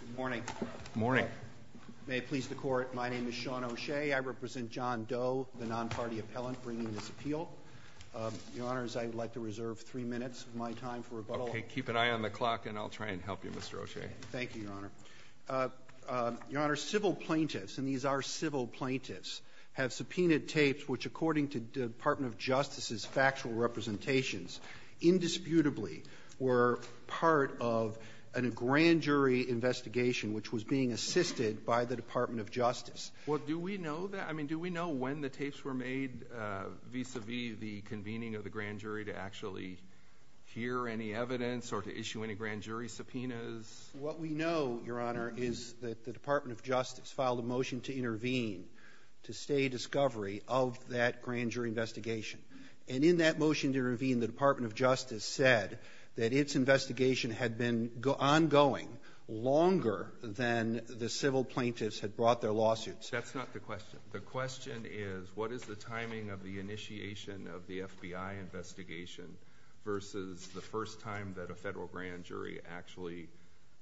Good morning. Good morning. May it please the Court, my name is Sean O'Shea. I represent John Doe, the non-party appellant bringing this appeal. Your Honors, I'd like to reserve three minutes of my time for rebuttal. Okay, keep an eye on the clock and I'll try and help you, Mr. O'Shea. Thank you, Your Honor. Your Honor, civil plaintiffs, and these are civil plaintiffs, have subpoenaed tapes which, according to the Department of Justice's factual representations, indisputably were part of a grand jury investigation which was being assisted by the Department of Justice. Well, do we know that? I mean, do we know when the tapes were made vis-a-vis the convening of the grand jury to actually hear any evidence or to issue any grand jury subpoenas? What we know, Your Honor, is that the Department of Justice filed a motion to intervene to stay a discovery of that grand jury investigation, and in that motion to intervene, the Department of Justice said that its investigation had been ongoing longer than the civil plaintiffs had brought their lawsuits. That's not the question. The question is, what is the timing of the initiation of the FBI investigation versus the first time that a federal grand jury actually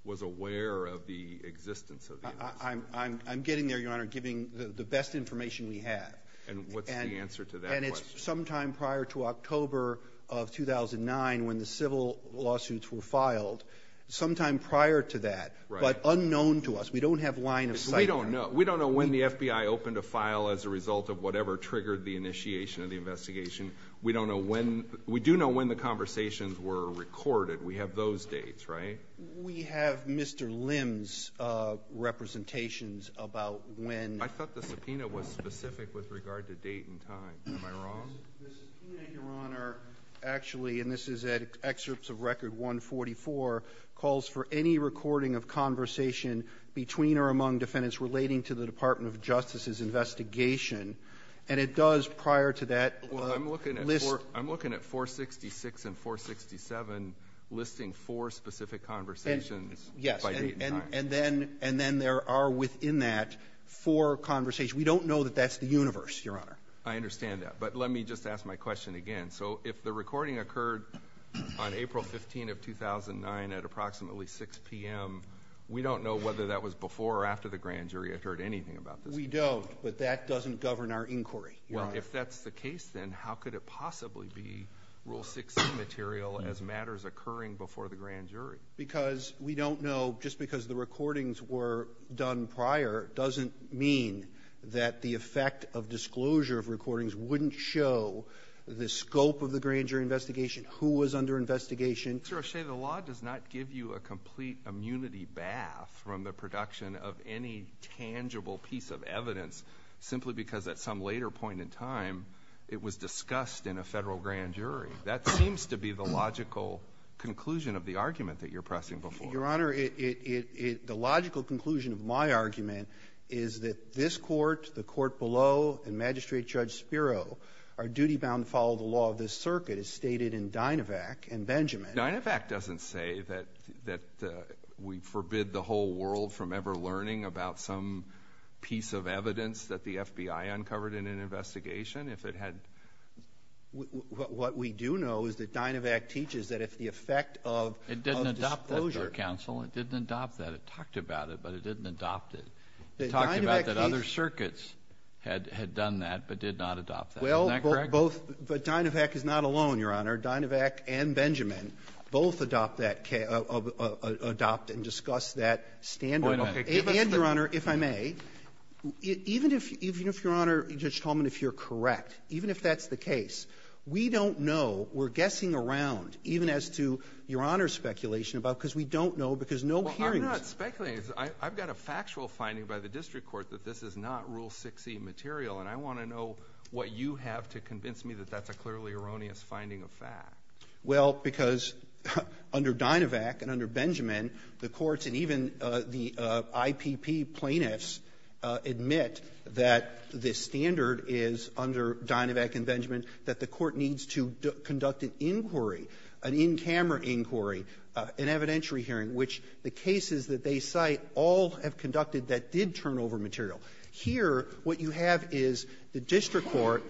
was aware of the existence of the investigation? I'm getting there, Your Honor, giving the best information we have. And what's the answer to that question? Sometime prior to October of 2009, when the civil lawsuits were filed, sometime prior to that, but unknown to us. We don't have line of sight. We don't know when the FBI opened a file as a result of whatever triggered the initiation of the investigation. We don't know when... We do know when the conversations were recorded. We have those dates, right? We have Mr. Lim's representations about when... I thought the subpoena was specific with regard to date and time. Am I wrong? The subpoena, Your Honor, actually, and this is at excerpts of Record 144, calls for any recording of conversation between or among defendants relating to the Department of Justice's investigation. And it does, prior to that... Well, I'm looking at...... list... I'm looking at 466 and 467, listing four specific conversations by date and time. And then there are, within that, four conversations. We don't know that that's the universe, Your Honor. I understand that. But let me just ask my question again. So if the recording occurred on April 15 of 2009 at approximately 6 p.m., we don't know whether that was before or after the grand jury had heard anything about this. We don't. But that doesn't govern our inquiry. Well, if that's the case, then how could it possibly be Rule 16 material as matters occurring before the grand jury? Because we don't know, just because the recordings were done prior, doesn't mean that the effect of disclosure of recordings wouldn't show the scope of the grand jury investigation, who was under investigation. Mr. O'Shea, the law does not give you a complete immunity bath from the production of any tangible piece of evidence, simply because at some later point in time, it was discussed in a federal grand jury. That seems to be the logical conclusion of the argument that you're pressing before. Your Honor, the logical conclusion of my argument is that this Court, the Court below, and Magistrate Judge Spiro are duty-bound to follow the law of this circuit, as stated in Dynavac and Benjamin. Dynavac doesn't say that we forbid the whole world from ever learning about some piece of evidence that the FBI uncovered in an investigation. What we do know is that Dynavac teaches that if the effect of disclosure— It didn't adopt that, Your Honor. It didn't adopt that. It talked about it, but it didn't adopt it. It talked about that other circuits had done that, but did not adopt that. Isn't that correct? Well, both—but Dynavac is not alone, Your Honor. Dynavac and Benjamin both adopt and discuss that standard. And, Your Honor, if I may, even if, Your Honor, Judge Coleman, if you're correct, even if that's the case, we don't know, we're guessing around, even as to Your Honor's speculation about—because we don't know, because no hearings— Well, I'm not speculating. I've got a factual finding by the district court that this is not Rule 6e material, and I want to know what you have to convince me that that's a clearly erroneous finding of fact. Well, because under Dynavac and under Benjamin, the courts and even the IPP plaintiffs admit that this standard is under Dynavac and Benjamin, that the court needs to conduct an inquiry, an in-camera inquiry, an evidentiary hearing, which the cases that they cite all have conducted that did turn over material. Here what you have is the district court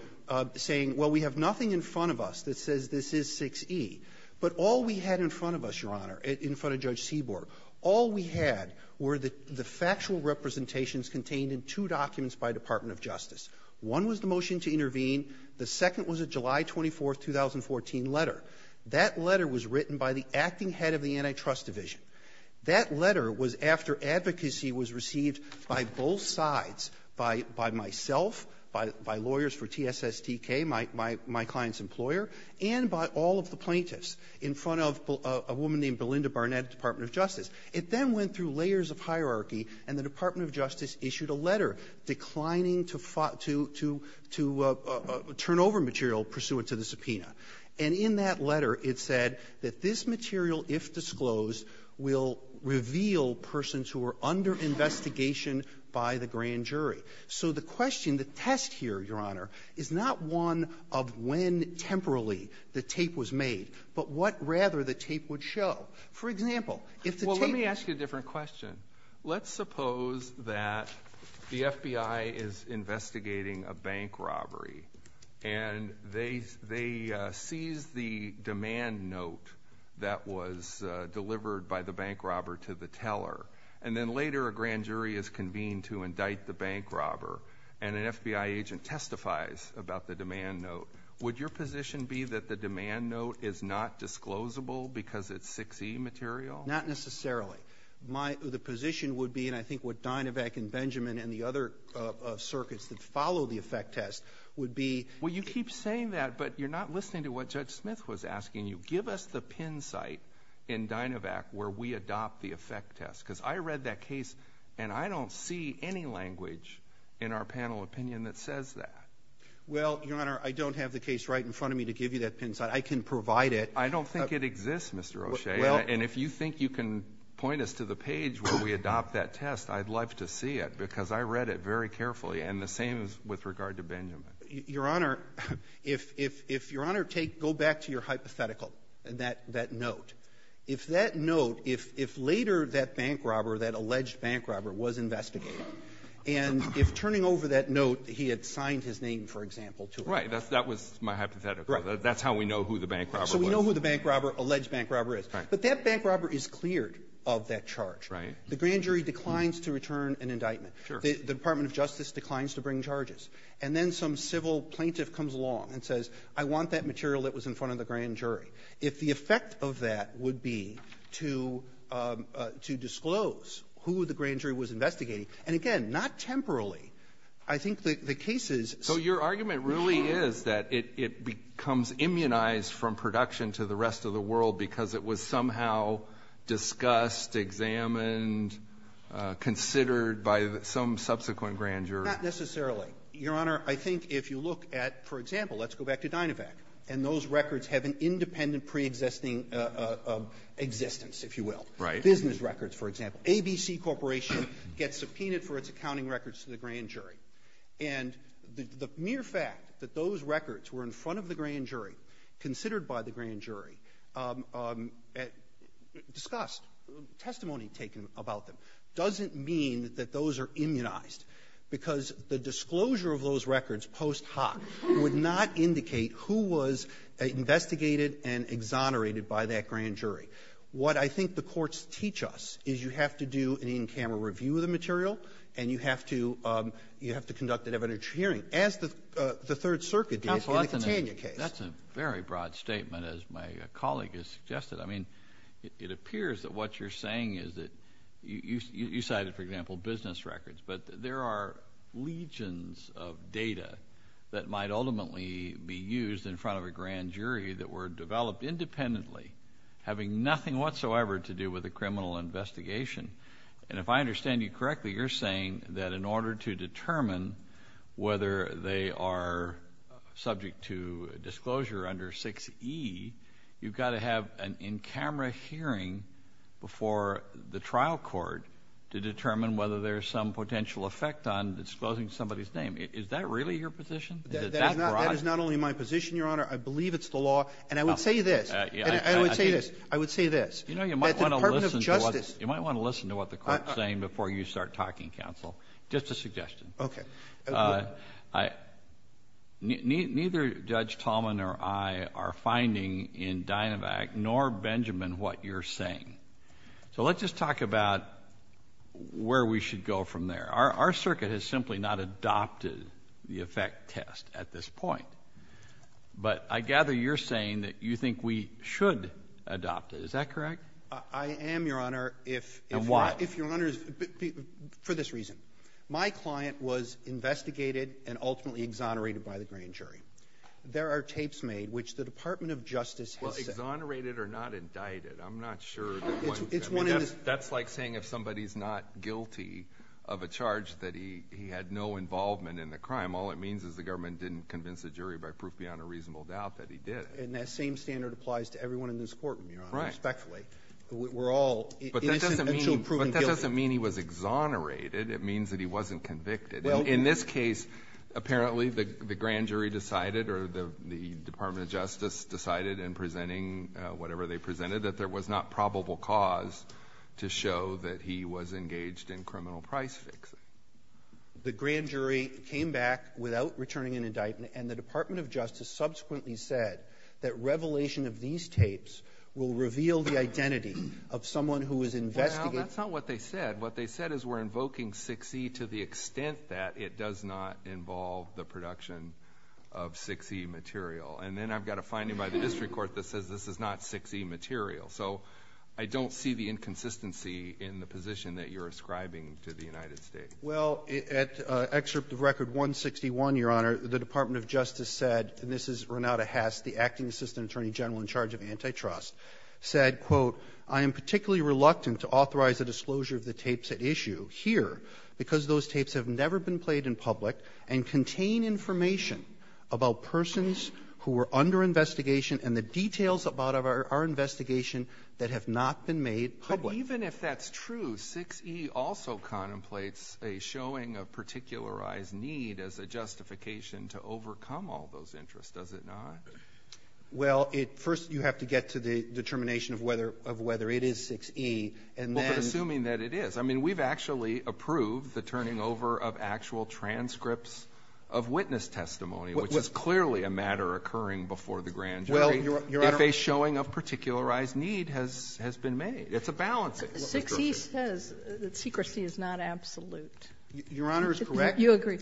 saying, well, we have nothing in front of us that says this is 6e, but all we had in front of us, Your Honor, in front of Judge Kagan, was a motion to intervene in two documents by Department of Justice. One was the motion to intervene. The second was a July 24, 2014, letter. That letter was written by the acting head of the Antitrust Division. That letter was after advocacy was received by both sides, by myself, by lawyers for TSSTK, my client's employer, and by all of the plaintiffs in front of a woman named Belinda Barnett at Department of Justice. It then went through layers of hierarchy, and the Department of Justice issued a letter declining to turn over material pursuant to the subpoena. And in that letter it said that this material, if disclosed, will reveal persons who are under investigation by the grand jury. So the question, the test here, Your Honor, is not one of when temporally the tape was made, but what rather the tape would show. For example, if the tape— Well, let me ask you a different question. Let's suppose that the FBI is investigating a bank robbery, and they seize the demand note that was delivered by the bank robber to the teller. And then later a grand jury is convened to indict the bank robber, and an FBI agent testifies about the demand note. Would your position be that the demand note is not disclosable because it's 6E material? Not necessarily. My—the position would be, and I think what Dynavac and Benjamin and the other circuits that follow the effect test would be— Well, you keep saying that, but you're not listening to what Judge Smith was asking you. Give us the pin site in Dynavac where we adopt the effect test. Because I read that case, and I don't see any language in our panel opinion that says that. Well, Your Honor, I don't have the case right in front of me to give you that pin site. I can provide it. I don't think it exists, Mr. O'Shea. Well— And if you think you can point us to the page where we adopt that test, I'd love to see it, because I read it very carefully, and the same is with regard to Benjamin. Your Honor, if Your Honor take—go back to your hypothetical, that note. If that note—if later that bank robber, that alleged bank robber, was investigated, and if turning over that note, he had signed his name, for example, to it— Right. That was my hypothetical. Right. That's how we know who the bank robber was. So we know who the bank robber, alleged bank robber, is. Right. But that bank robber is cleared of that charge. Right. The grand jury declines to return an indictment. Sure. The Department of Justice declines to bring charges. And then some civil plaintiff comes along and says, I want that material that was in front of the grand jury. If the effect of that would be to disclose who the grand jury was investigating—and again, not temporarily. I think the case is— So your argument really is that it becomes immunized from production to the rest of the world because it was somehow discussed, examined, considered by some subsequent grand jury. Not necessarily. Your Honor, I think if you look at—for example, let's go back to Dynavac. And those records have an independent pre-existing existence, if you will. Right. Business records, for example. ABC Corporation gets subpoenaed for its accounting records to the grand jury. And the mere fact that those records were in front of the grand jury, considered by the grand jury, discussed, testimony taken about them, doesn't mean that those are investigated and exonerated by that grand jury. What I think the courts teach us is you have to do an in-camera review of the material and you have to conduct an evidentiary hearing, as the Third Circuit did in the Catania case. Counsel, that's a very broad statement, as my colleague has suggested. I mean, it appears that what you're saying is that—you cited, for example, business records, but there are legions of data that might ultimately be used in front of a grand jury that were developed independently, having nothing whatsoever to do with the criminal investigation. And if I understand you correctly, you're saying that in order to determine whether they are subject to disclosure under 6E, you've got to have an in-camera hearing before the trial court to determine whether there's some potential effect on disclosing somebody's name. Is that really your position? Is it that broad? That is not only my position, Your Honor. I believe it's the law. And I would say this. I would say this. I would say this. That the Department of Justice— You know, you might want to listen to what the court is saying before you start talking, Counsel. Just a suggestion. Okay. Neither Judge Tallman or I are finding in Dynavac nor Benjamin what you're saying. So let's just talk about where we should go from there. Our circuit has simply not adopted the effect test at this point. But I gather you're saying that you think we should adopt it. Is that correct? I am, Your Honor, if— And why? If, Your Honor, for this reason. My client was investigated and ultimately exonerated by the grand jury. There are tapes made, which the Department of Justice has said— Well, exonerated or not indicted. I'm not sure. I mean, that's like saying if somebody's not guilty of a charge that he had no involvement in the crime. All it means is the government didn't convince the jury by proof beyond a reasonable doubt that he did. And that same standard applies to everyone in this court, Your Honor. Right. Respectfully. We're all innocent until proven guilty. But that doesn't mean he was exonerated. It means that he wasn't convicted. In this case, apparently the grand jury decided, or the Department of Justice decided in presenting whatever they presented, that there was not probable cause to show that he was engaged in criminal price fixing. The grand jury came back without returning an indictment. And the Department of Justice subsequently said that revelation of these tapes will reveal the identity of someone who was investigated. Well, that's not what they said. What they said is we're invoking 6E to the extent that it does not involve the production of 6E material. And then I've got a finding by the district court that says this is not 6E material. So I don't see the inconsistency in the position that you're ascribing to the United States. Well, at excerpt of Record 161, Your Honor, the Department of Justice said—and this is Renata Hess, the acting assistant attorney general in charge of antitrust—said, quote, I am particularly reluctant to authorize the disclosure of the tapes at issue here because those tapes have never been played in public and contain information about persons who were under investigation and the details about our investigation that have not been made public. But even if that's true, 6E also contemplates a showing of particularized need as a justification to overcome all those interests, does it not? Well, first you have to get to the determination of whether it is 6E, and then— Well, assuming that it is. I mean, we've actually approved the turning over of actual transcripts of witness testimony, which is clearly a matter occurring before the grand jury— Well, Your Honor— —if a showing of particularized need has been made. It's a balance. 6E says that secrecy is not absolute. Your Honor is correct. You agree.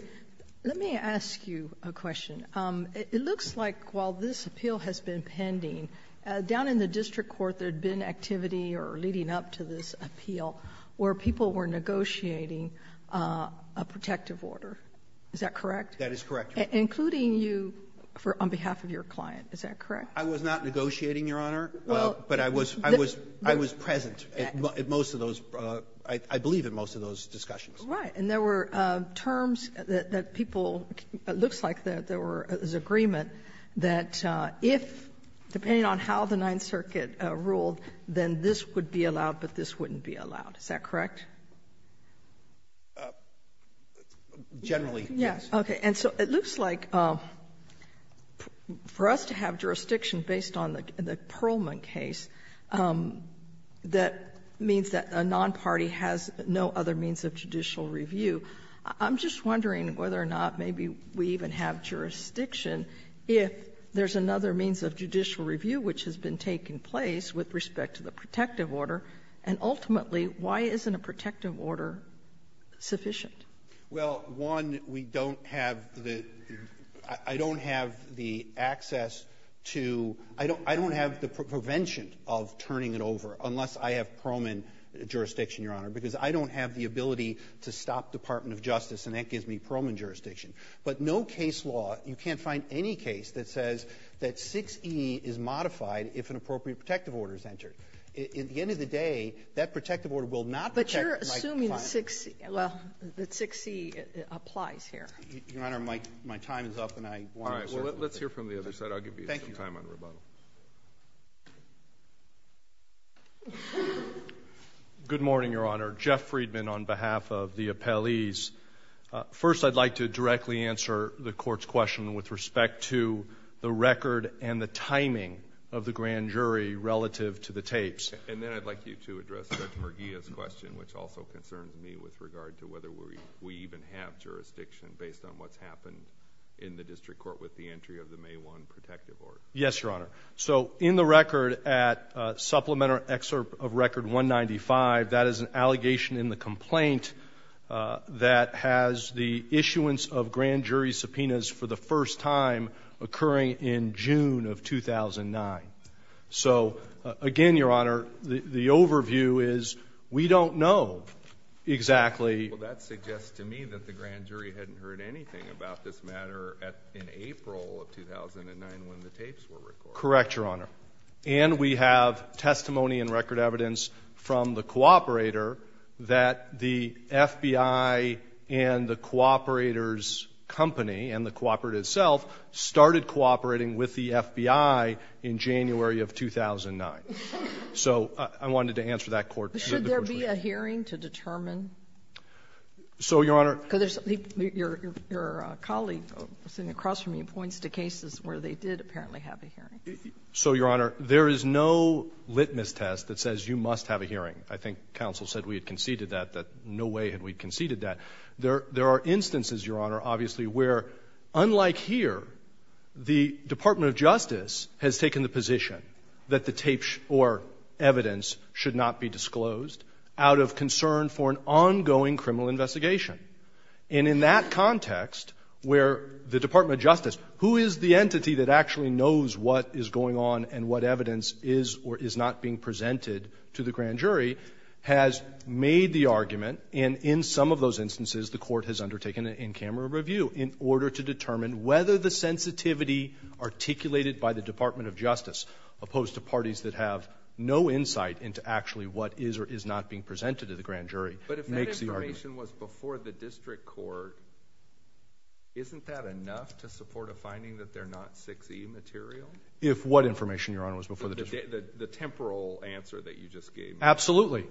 Let me ask you a question. It looks like while this appeal has been pending, down in the district court there had been activity or leading up to this appeal where people were negotiating a protective order. Is that correct? That is correct, Your Honor. Including you on behalf of your client. Is that correct? I was not negotiating, Your Honor, but I was present at most of those—I believe at most of those discussions. Right. And there were terms that people—it looks like there was agreement that if, depending on how the Ninth Circuit ruled, then this would be allowed, but this wouldn't be allowed. Is that correct? Generally, yes. Okay. And so it looks like for us to have jurisdiction based on the Pearlman case, that means that a non-party has no other means of judicial review. I'm just wondering whether or not maybe we even have jurisdiction if there's another means of judicial review, which has been taking place with respect to the protective order. And ultimately, why isn't a protective order sufficient? Well, one, we don't have the—I don't have the access to—I don't have the prevention of turning it over unless I have Pearlman jurisdiction, Your Honor, because I don't have the ability to stop Department of Justice, and that gives me Pearlman jurisdiction. But no case law—you can't find any case that says that 6E is modified if an appropriate protective order is entered. At the end of the day, that protective order will not protect my client. But you're assuming 6E—well, that 6E applies here. Your Honor, my time is up, and I want to— All right. Well, let's hear from the other side. I'll give you some time on rebuttal. Thank you. Good morning, Your Honor. Jeff Friedman on behalf of the appellees. First, I'd like to directly answer the Court's question with respect to the record and the timing of the grand jury relative to the tapes. And then I'd like you to address Judge Perghia's question, which also concerns me with regard to whether we even have jurisdiction based on what's happened in the district court with the entry of the May 1 protective order. Yes, Your Honor. So in the record at Supplemental Excerpt of Record 195, that is an allegation in the complaint that has the issuance of grand jury subpoenas for the first time occurring in June of 2009. So, again, Your Honor, the overview is we don't know exactly— Well, that suggests to me that the grand jury hadn't heard anything about this matter in April of 2009 when the tapes were recorded. Correct, Your Honor. And we have testimony and record evidence from the cooperator that the FBI and the cooperator's company and the cooperator itself started cooperating with the FBI in January of 2009. So I wanted to answer that Court's question. Should there be a hearing to determine? So, Your Honor— Because your colleague sitting across from me points to cases where they did apparently have a hearing. So, Your Honor, there is no litmus test that says you must have a hearing. I think counsel said we had conceded that, that no way had we conceded that. There are instances, Your Honor, obviously, where, unlike here, the Department of Justice has taken the position that the tapes or evidence should not be disclosed out of concern for an ongoing criminal investigation. And in that context where the Department of Justice, who is the entity that actually knows what is going on and what evidence is or is not being presented to the grand jury, has made the argument, and in some of those instances the Court has undertaken an in-camera review in order to determine whether the sensitivity articulated by the Department of Justice opposed to parties that have no insight into actually what is or is not being presented to the grand jury makes the argument. But if that information was before the district court, isn't that enough to support a finding that they're not 6E material? If what information, Your Honor, was before the district court? The temporal answer that you just gave me. Absolutely.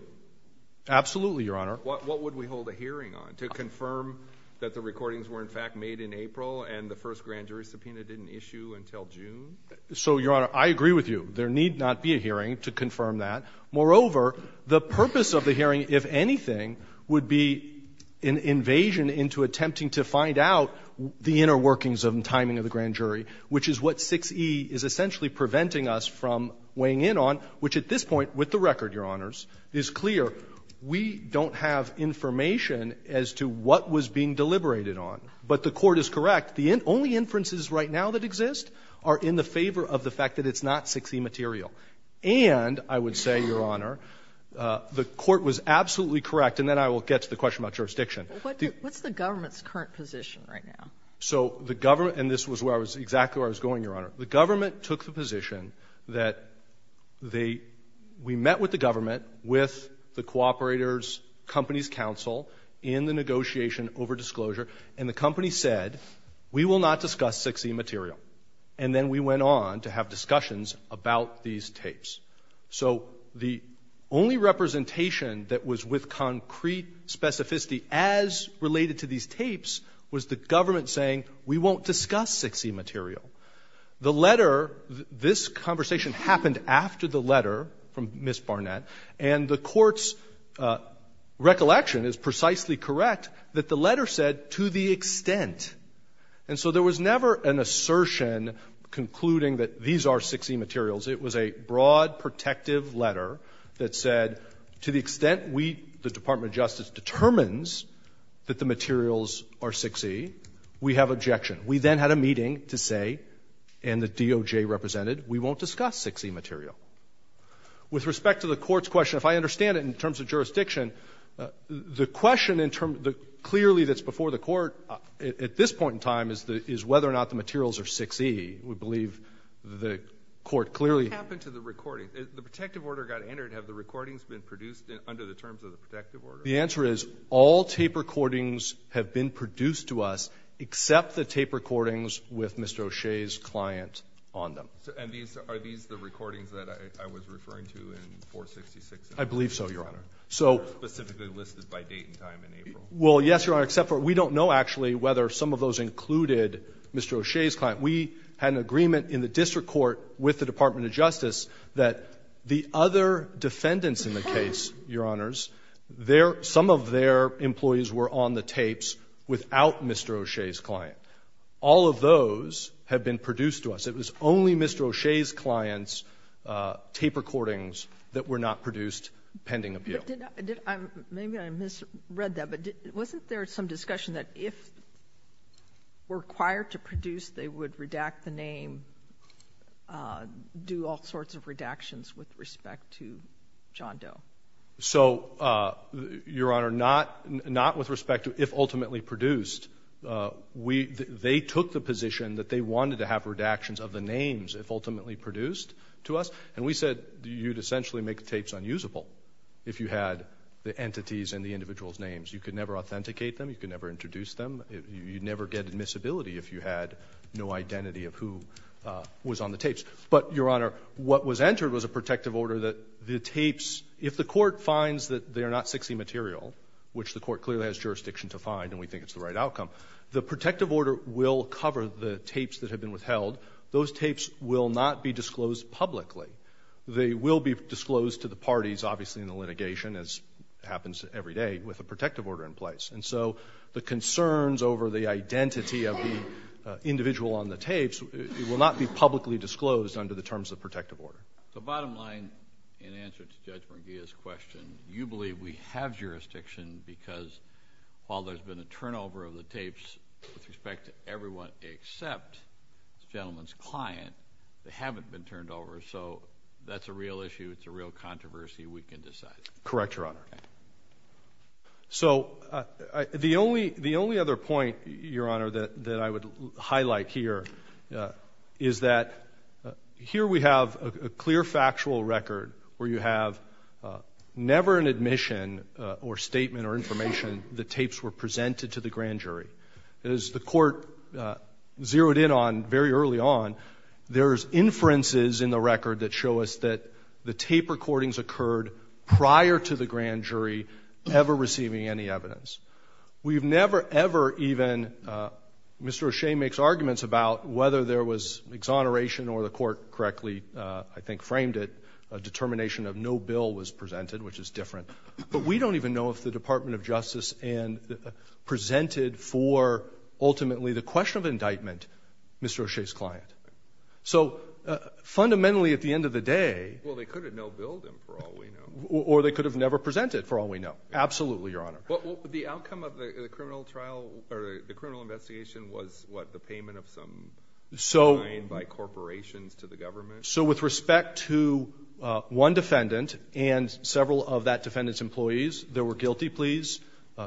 Absolutely, Your Honor. What would we hold a hearing on? To confirm that the recordings were, in fact, made in April and the first grand jury subpoena didn't issue until June? So, Your Honor, I agree with you. There need not be a hearing to confirm that. Moreover, the purpose of the hearing, if anything, would be an invasion into attempting to find out the inner workings of and timing of the grand jury, which is what 6E is essentially preventing us from weighing in on, which at this point, with the record, Your Honors, is clear. We don't have information as to what was being deliberated on. But the Court is correct. The only inferences right now that exist are in the favor of the fact that it's not 6E material. And I would say, Your Honor, the Court was absolutely correct, and then I will get to the question about jurisdiction. What's the government's current position right now? So the government, and this was where I was, exactly where I was going, Your Honor. The government took the position that they, we met with the government, with the cooperators, companies counsel, in the negotiation over disclosure, and the company said, we will not discuss 6E material. And then we went on to have discussions about these tapes. So the only representation that was with concrete specificity as related to these tapes was the government saying, we won't discuss 6E material. The letter, this conversation happened after the letter from Ms. Barnett, and the Court's recollection is precisely correct that the letter said, to the extent. And so there was never an assertion concluding that these are 6E materials. It was a broad, protective letter that said, to the extent we, the Department of Justice, determines that the materials are 6E, we have objection. We then had a meeting to say, and the DOJ represented, we won't discuss 6E material. With respect to the Court's question, if I understand it in terms of jurisdiction, the question in terms, clearly that's before the Court at this point in time is whether or not the materials are 6E. We believe the Court clearly. What happened to the recording? The protective order got entered. Have the recordings been produced under the terms of the protective order? The answer is all tape recordings have been produced to us, except the tape recordings with Mr. O'Shea's client on them. And these, are these the recordings that I was referring to in 466? I believe so, Your Honor. Specifically listed by date and time in April. Well, yes, Your Honor, except for we don't know actually whether some of those included Mr. O'Shea's client. We had an agreement in the district court with the Department of Justice that the other defendants in the case, Your Honors, their, some of their employees were on the tapes without Mr. O'Shea's client. All of those have been produced to us. It was only Mr. O'Shea's client's tape recordings that were not produced pending appeal. Maybe I misread that, but wasn't there some discussion that if required to produce, they would redact the name, do all sorts of redactions with respect to John Doe? So, Your Honor, not with respect to if ultimately produced. We, they took the position that they wanted to have redactions of the names if ultimately produced to us. And we said you'd essentially make the tapes unusable if you had the entities and the individual's names. You could never authenticate them. You could never introduce them. You'd never get admissibility if you had no identity of who was on the tapes. But, Your Honor, what was entered was a protective order that the tapes, if the court finds that they are not 60 material, which the court clearly has jurisdiction to find and we think it's the right outcome, the protective order will cover the tapes that have been withheld. Those tapes will not be disclosed publicly. They will be disclosed to the parties, obviously, in the litigation as happens every day with a protective order in place. And so the concerns over the identity of the individual on the tapes will not be publicly disclosed under the terms of protective order. So, bottom line, in answer to Judge Munguia's question, you believe we have jurisdiction because while there's been a turnover of the tapes with respect to everyone except this gentleman's client, they haven't been turned over. So that's a real issue. It's a real controversy. We can decide. Correct, Your Honor. Okay. So the only other point, Your Honor, that I would highlight here is that here we have a clear factual record where you have never an admission or statement or information the tapes were presented to the grand jury. As the court zeroed in on very early on, there's inferences in the record that show us that the tape recordings occurred prior to the grand jury ever receiving any evidence. We've never, ever even, Mr. O'Shea makes arguments about whether there was exoneration or the court correctly, I think, framed it, a determination of no bill was presented, which is different. But we don't even know if the Department of Justice presented for ultimately the question of indictment Mr. O'Shea's client. So fundamentally at the end of the day — Well, they could have no billed him, for all we know. Or they could have never presented, for all we know. Absolutely, Your Honor. Well, the outcome of the criminal trial or the criminal investigation was, what, the payment of some fine by corporations to the government? So with respect to one defendant and several of that defendant's employees, there were guilty pleas,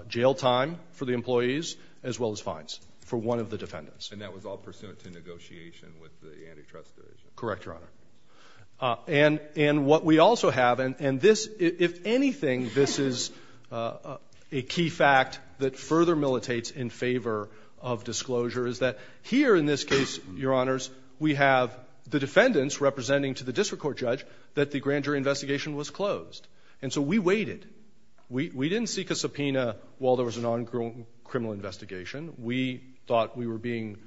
jail time for the employees, as well as fines for one of the defendants. And that was all pursuant to negotiation with the antitrust division? Correct, Your Honor. And what we also have, and this, if anything, this is a key fact that further militates in favor of disclosure, is that here in this case, Your Honors, we have the defendants representing to the district court judge that the grand jury investigation was closed. And so we waited. We didn't seek a subpoena while there was an ongoing criminal investigation. We thought we were being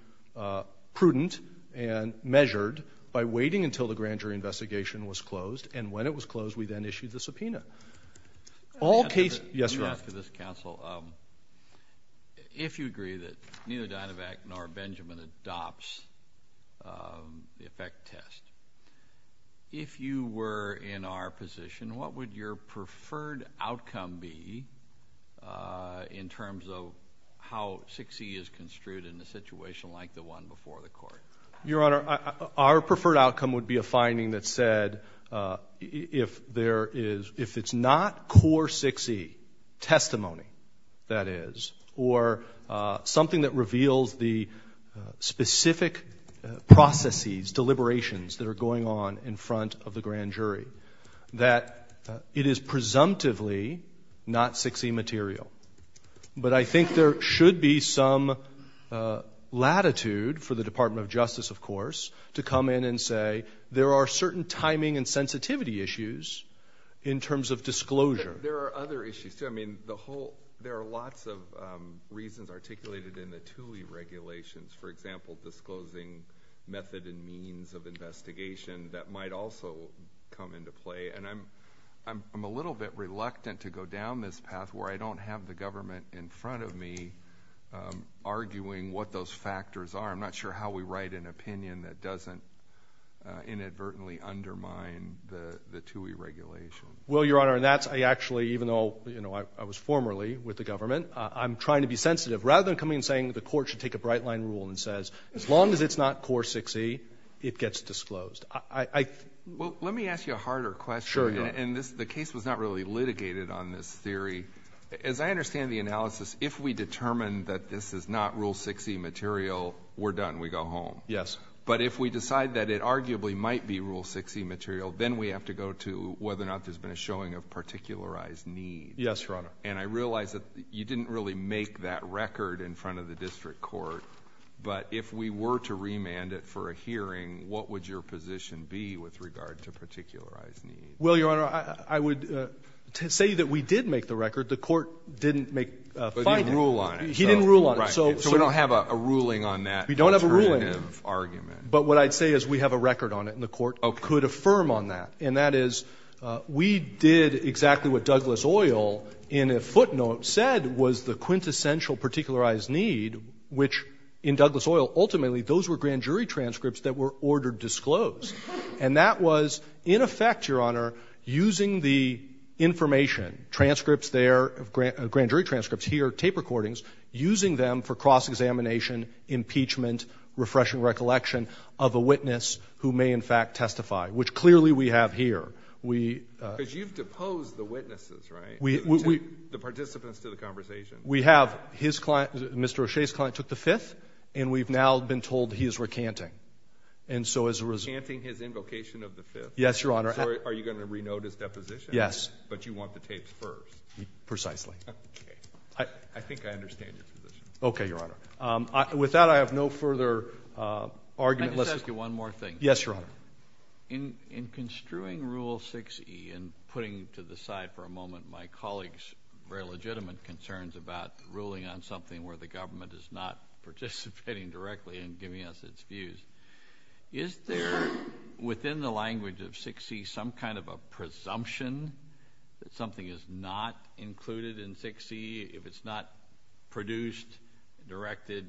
prudent and measured by waiting until the grand jury investigation was closed. And when it was closed, we then issued the subpoena. All cases — Let me ask you this, counsel. If you agree that neither Dynevac nor Benjamin adopts the effect test, if you were in our position, what would your preferred outcome be in terms of how 6E is construed in a situation like the one before the court? Your Honor, our preferred outcome would be a finding that said if there is — testimony, that is, or something that reveals the specific processes, deliberations that are going on in front of the grand jury, that it is presumptively not 6E material. But I think there should be some latitude for the Department of Justice, of course, to come in and say there are certain timing and sensitivity issues in terms of — There are other issues, too. I mean, the whole — there are lots of reasons articulated in the TUI regulations, for example, disclosing method and means of investigation that might also come into play. And I'm a little bit reluctant to go down this path where I don't have the government in front of me arguing what those factors are. I'm not sure how we write an opinion that doesn't inadvertently undermine the TUI regulation. Well, Your Honor, and that's — I actually, even though, you know, I was formerly with the government, I'm trying to be sensitive. Rather than coming and saying the court should take a bright-line rule and says as long as it's not core 6E, it gets disclosed. I — Well, let me ask you a harder question. Sure. And the case was not really litigated on this theory. As I understand the analysis, if we determine that this is not rule 6E material, we're done. We go home. Yes. But if we decide that it arguably might be rule 6E material, then we have to go to whether or not there's been a showing of particularized need. Yes, Your Honor. And I realize that you didn't really make that record in front of the district court. But if we were to remand it for a hearing, what would your position be with regard to particularized need? Well, Your Honor, I would say that we did make the record. The court didn't make — But you rule on it. He didn't rule on it. So — Right. So we don't have a ruling on that — We don't have a ruling. — alternative argument. But what I'd say is we have a record on it, and the court could affirm on that. And that is, we did exactly what Douglas Oil, in a footnote, said was the quintessential particularized need, which in Douglas Oil, ultimately, those were grand jury transcripts that were ordered disclosed. And that was, in effect, Your Honor, using the information, transcripts there, grand jury transcripts here, tape recordings, using them for cross-examination, impeachment, refreshing recollection of a witness who may in fact testify, which clearly we have here. We — Because you've deposed the witnesses, right? We — The participants to the conversation. We have. His client — Mr. O'Shea's client took the Fifth, and we've now been told he is recanting. And so as a result — Recanting his invocation of the Fifth. Yes, Your Honor. So are you going to renote his deposition? Yes. But you want the tapes first. Precisely. Okay. I think I understand your position. Okay, Your Honor. With that, I have no further argument. Let's — Can I just ask you one more thing? Yes, Your Honor. In construing Rule 6e and putting to the side for a moment my colleague's very legitimate concerns about ruling on something where the government is not participating directly and giving us its views, is there within the language of 6e some kind of a presumption that something is not included in 6e if it's not produced, directed,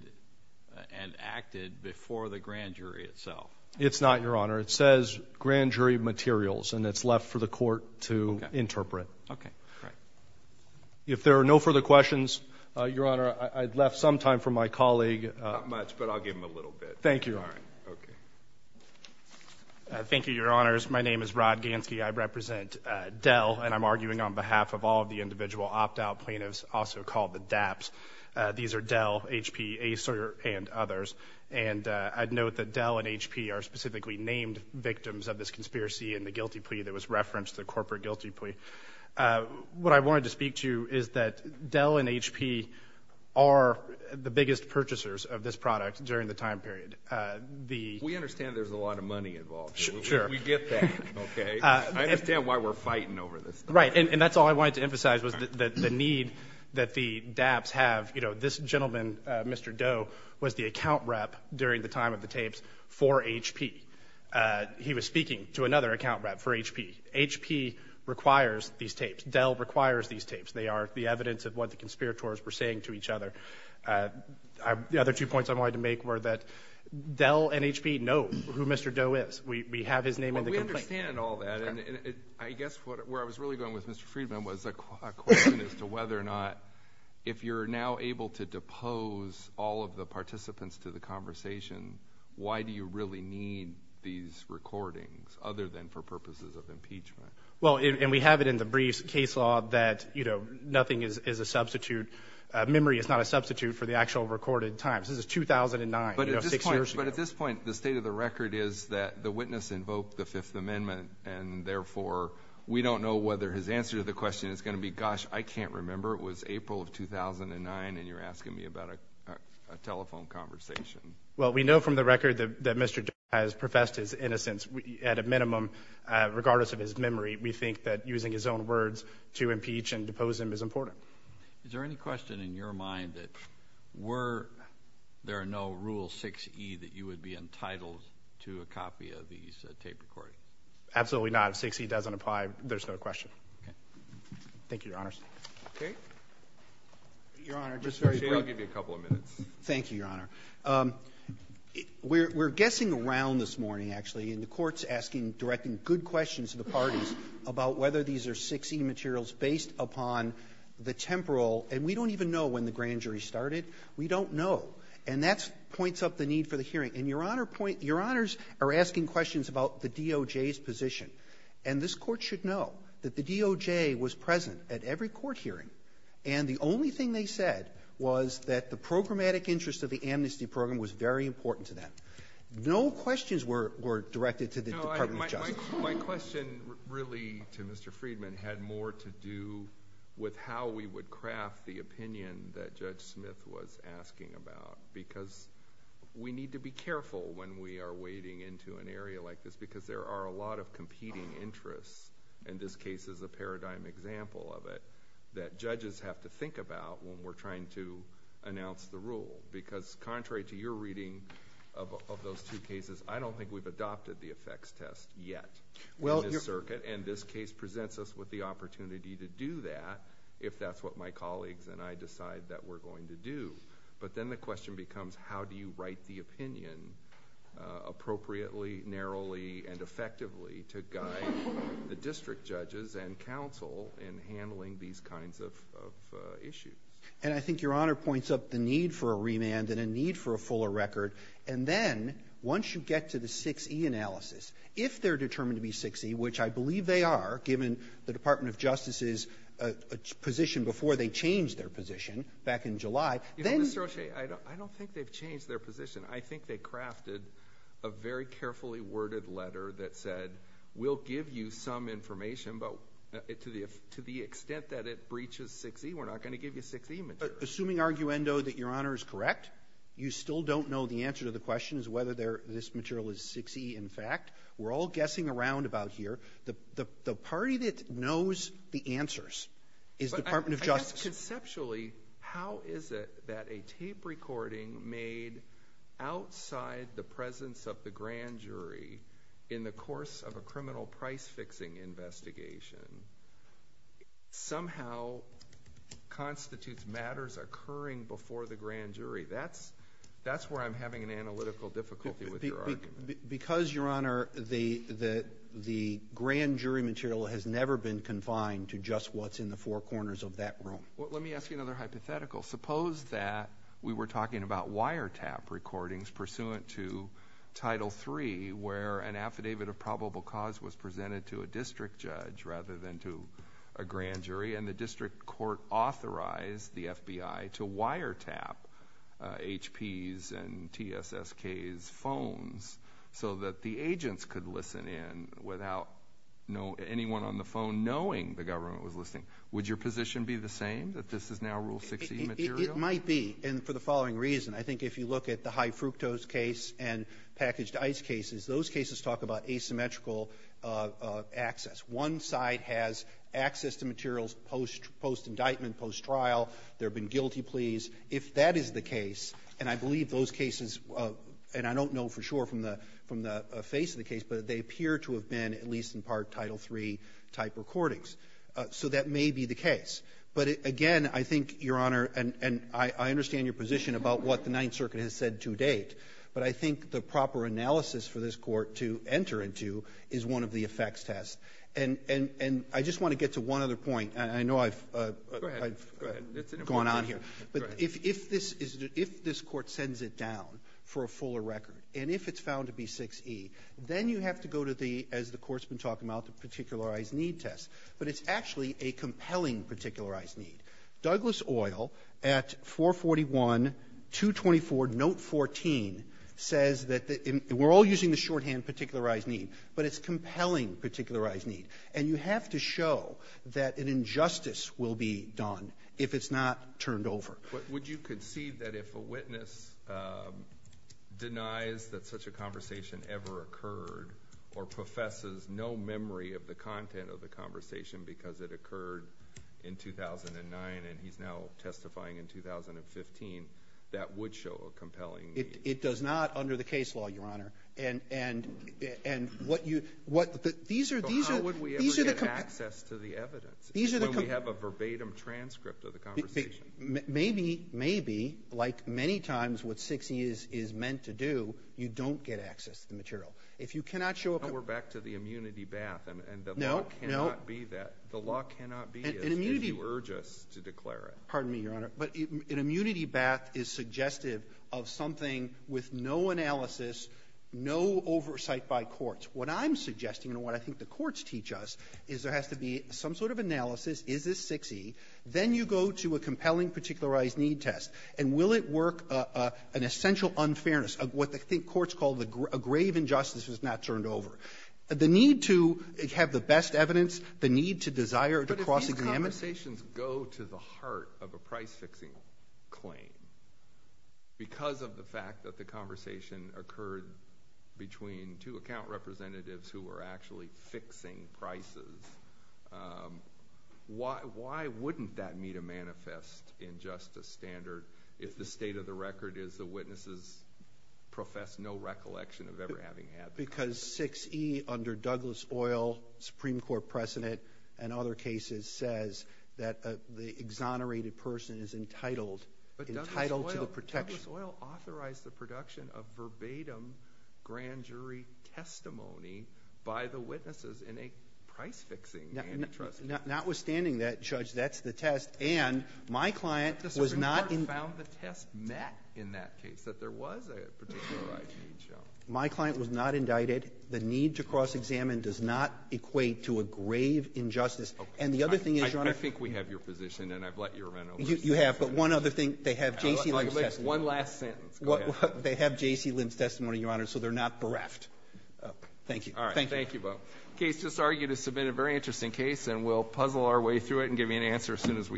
and acted before the grand jury itself? It's not, Your Honor. It says grand jury materials, and it's left for the court to interpret. Okay. Great. If there are no further questions, Your Honor, I'd left some time for my colleague — Not much, but I'll give him a little bit. Thank you. All right. Okay. Thank you, Your Honors. My name is Rod Gansky. I represent Dell, and I'm arguing on behalf of all of the individual opt-out plaintiffs also called the DAPs. These are Dell, HP, Acer, and others. And I'd note that Dell and HP are specifically named victims of this conspiracy and the guilty plea that was referenced, the corporate guilty plea. What I wanted to speak to is that Dell and HP are the biggest purchasers of this product during the time period. We understand there's a lot of money involved. Sure. We get that. Okay? I understand why we're fighting over this. Right. And that's all I wanted to emphasize was the need that the DAPs have. You know, this gentleman, Mr. Doe, was the account rep during the time of the tapes for HP. He was speaking to another account rep for HP. HP requires these tapes. Dell requires these tapes. They are the evidence of what the conspirators were saying to each other. The other two points I wanted to make were that Dell and HP know who Mr. Doe is. We have his name in the complaint. Well, we understand all that, and I guess where I was really going with Mr. Friedman was a question as to whether or not, if you're now able to depose all of the participants to the conversation, why do you really need these recordings other than for purposes of impeachment? Well, and we have it in the briefs case law that, you know, nothing is a substitute. Memory is not a substitute for the actual recorded times. This is 2009, you know, six years ago. But at this point, the state of the record is that the witness invoked the Fifth Amendment, and therefore, we don't know whether his answer to the question is going to be, gosh, I can't remember. It was April of 2009, and you're asking me about a telephone conversation. Well, we know from the record that Mr. Doe has professed his innocence at a minimum, regardless of his memory. We think that using his own words to impeach and depose him is important. Is there any question in your mind that were there no Rule 6E that you would be entitled to a copy of these tape recordings? Absolutely not. If 6E doesn't apply, there's no question. Okay. Thank you, Your Honors. Okay. Your Honor, just very briefly. I'll give you a couple of minutes. Thank you, Your Honor. We're guessing around this morning, actually, and the Court's asking, directing good questions to the parties about whether these are 6E materials based upon the temporal, and we don't even know when the grand jury started. We don't know. And that points up the need for the hearing. And Your Honors are asking questions about the DOJ's position, and this Court should know that the DOJ was present at every court hearing, and the only thing they said was that the programmatic interest of the amnesty program was very important to them. No questions were directed to the Department of Justice. No, my question really to Mr. Friedman had more to do with how we would craft the opinion that Judge Smith was asking about, because we need to be careful when we are wading into an area like this, because there are a lot of competing interests, and this case is a paradigm example of it, that judges have to think about when we're trying to announce the rule. Because contrary to your reading of those two cases, I don't think we've adopted the effects test yet in this circuit, and this case presents us with the opportunity to do that if that's what my colleagues and I decide that we're going to do. But then the question becomes, how do you write the opinion appropriately, narrowly, and effectively to guide the district judges and counsel in handling these kinds of issues? And I think Your Honor points up the need for a remand and a need for a fuller record. And then, once you get to the 6E analysis, if they're determined to be 6E, which I believe they are, given the Department of Justice's position before they changed their position back in July, then— You know, Mr. O'Shea, I don't think they've changed their position. I think they crafted a very carefully worded letter that said, we'll give you some information, but to the extent that it breaches 6E, we're not going to give you 6E material. Assuming, arguendo, that Your Honor is correct, you still don't know the answer to the question is whether this material is 6E in fact. We're all guessing around about here. The party that knows the answers is Department of Justice. But I guess conceptually, how is it that a tape recording made outside the presence of the grand jury in the course of a criminal price-fixing investigation somehow constitutes matters occurring before the grand jury? That's where I'm having an analytical difficulty with Your Honor. Because, Your Honor, the grand jury material has never been confined to just what's in the four corners of that room. Well, let me ask you another hypothetical. Suppose that we were talking about wiretap recordings pursuant to Title III, where an affidavit of probable cause was presented to a district judge rather than to a grand jury. Would you be willing to allow the government to listen in on HP's and TSSK's phones so that the agents could listen in without anyone on the phone knowing the government was listening? Would your position be the same, that this is now Rule 6E material? It might be. And for the following reason. I think if you look at the high fructose case and packaged ice cases, those cases talk about asymmetrical access. One side has access to materials post-indictment, post-trial. They've been guilty pleas. If that is the case, and I believe those cases, and I don't know for sure from the face of the case, but they appear to have been at least in part Title III-type recordings. So that may be the case. But, again, I think, Your Honor, and I understand your position about what the Ninth Circuit has said to date, but I think the proper analysis for this Court to enter into is one of the effects tests. And I just want to get to one other point. And I know I've gone on here. But if this is the – if this Court sends it down for a fuller record, and if it's found to be 6E, then you have to go to the, as the Court's been talking about, the particularized need test. But it's actually a compelling particularized need. Douglas Oil at 441.224, note 14, says that the – we're all using the shorthand particularized need, but it's compelling particularized need. And you have to show that an injustice will be done if it's not turned over. But would you concede that if a witness denies that such a conversation ever occurred or professes no memory of the content of the conversation because it occurred in 2009 and he's now testifying in 2015, that would show a compelling need? It does not under the case law, Your Honor. And what you – these are the – So how would we ever get access to the evidence when we have a verbatim transcript of the conversation? Maybe, like many times what 6E is meant to do, you don't get access to the material. If you cannot show a – We're back to the immunity bath, and the law cannot be that. The law cannot be as if you urge us to declare it. Pardon me, Your Honor. But an immunity bath is suggestive of something with no analysis, no oversight by courts. What I'm suggesting and what I think the courts teach us is there has to be some sort of analysis. Is this 6E? Then you go to a compelling particularized need test. And will it work an essential unfairness of what the courts call a grave injustice if it's not turned over? The need to have the best evidence, the need to desire to cross-examine. Conversations go to the heart of a price-fixing claim. Because of the fact that the conversation occurred between two account representatives who were actually fixing prices, why wouldn't that meet a manifest injustice standard if the state of the record is the witnesses profess no recollection of ever having had – Well, that's because 6E under Douglas Oil, Supreme Court precedent, and other cases says that the exonerated person is entitled to the protection. But Douglas Oil authorized the production of verbatim grand jury testimony by the witnesses in a price-fixing need test. Notwithstanding that, Judge, that's the test. And my client was not – The Supreme Court found the test met in that case, that there was a particularized need show. My client was not indicted. The need to cross-examine does not equate to a grave injustice. And the other thing is, Your Honor – I think we have your position, and I've let you run over. You have, but one other thing. They have J.C. Lim's testimony. One last sentence. Go ahead. They have J.C. Lim's testimony, Your Honor, so they're not bereft. Thank you. All right. Thank you, Bo. The case just argued has been a very interesting case, and we'll puzzle our way through it and give you an answer as soon as we can.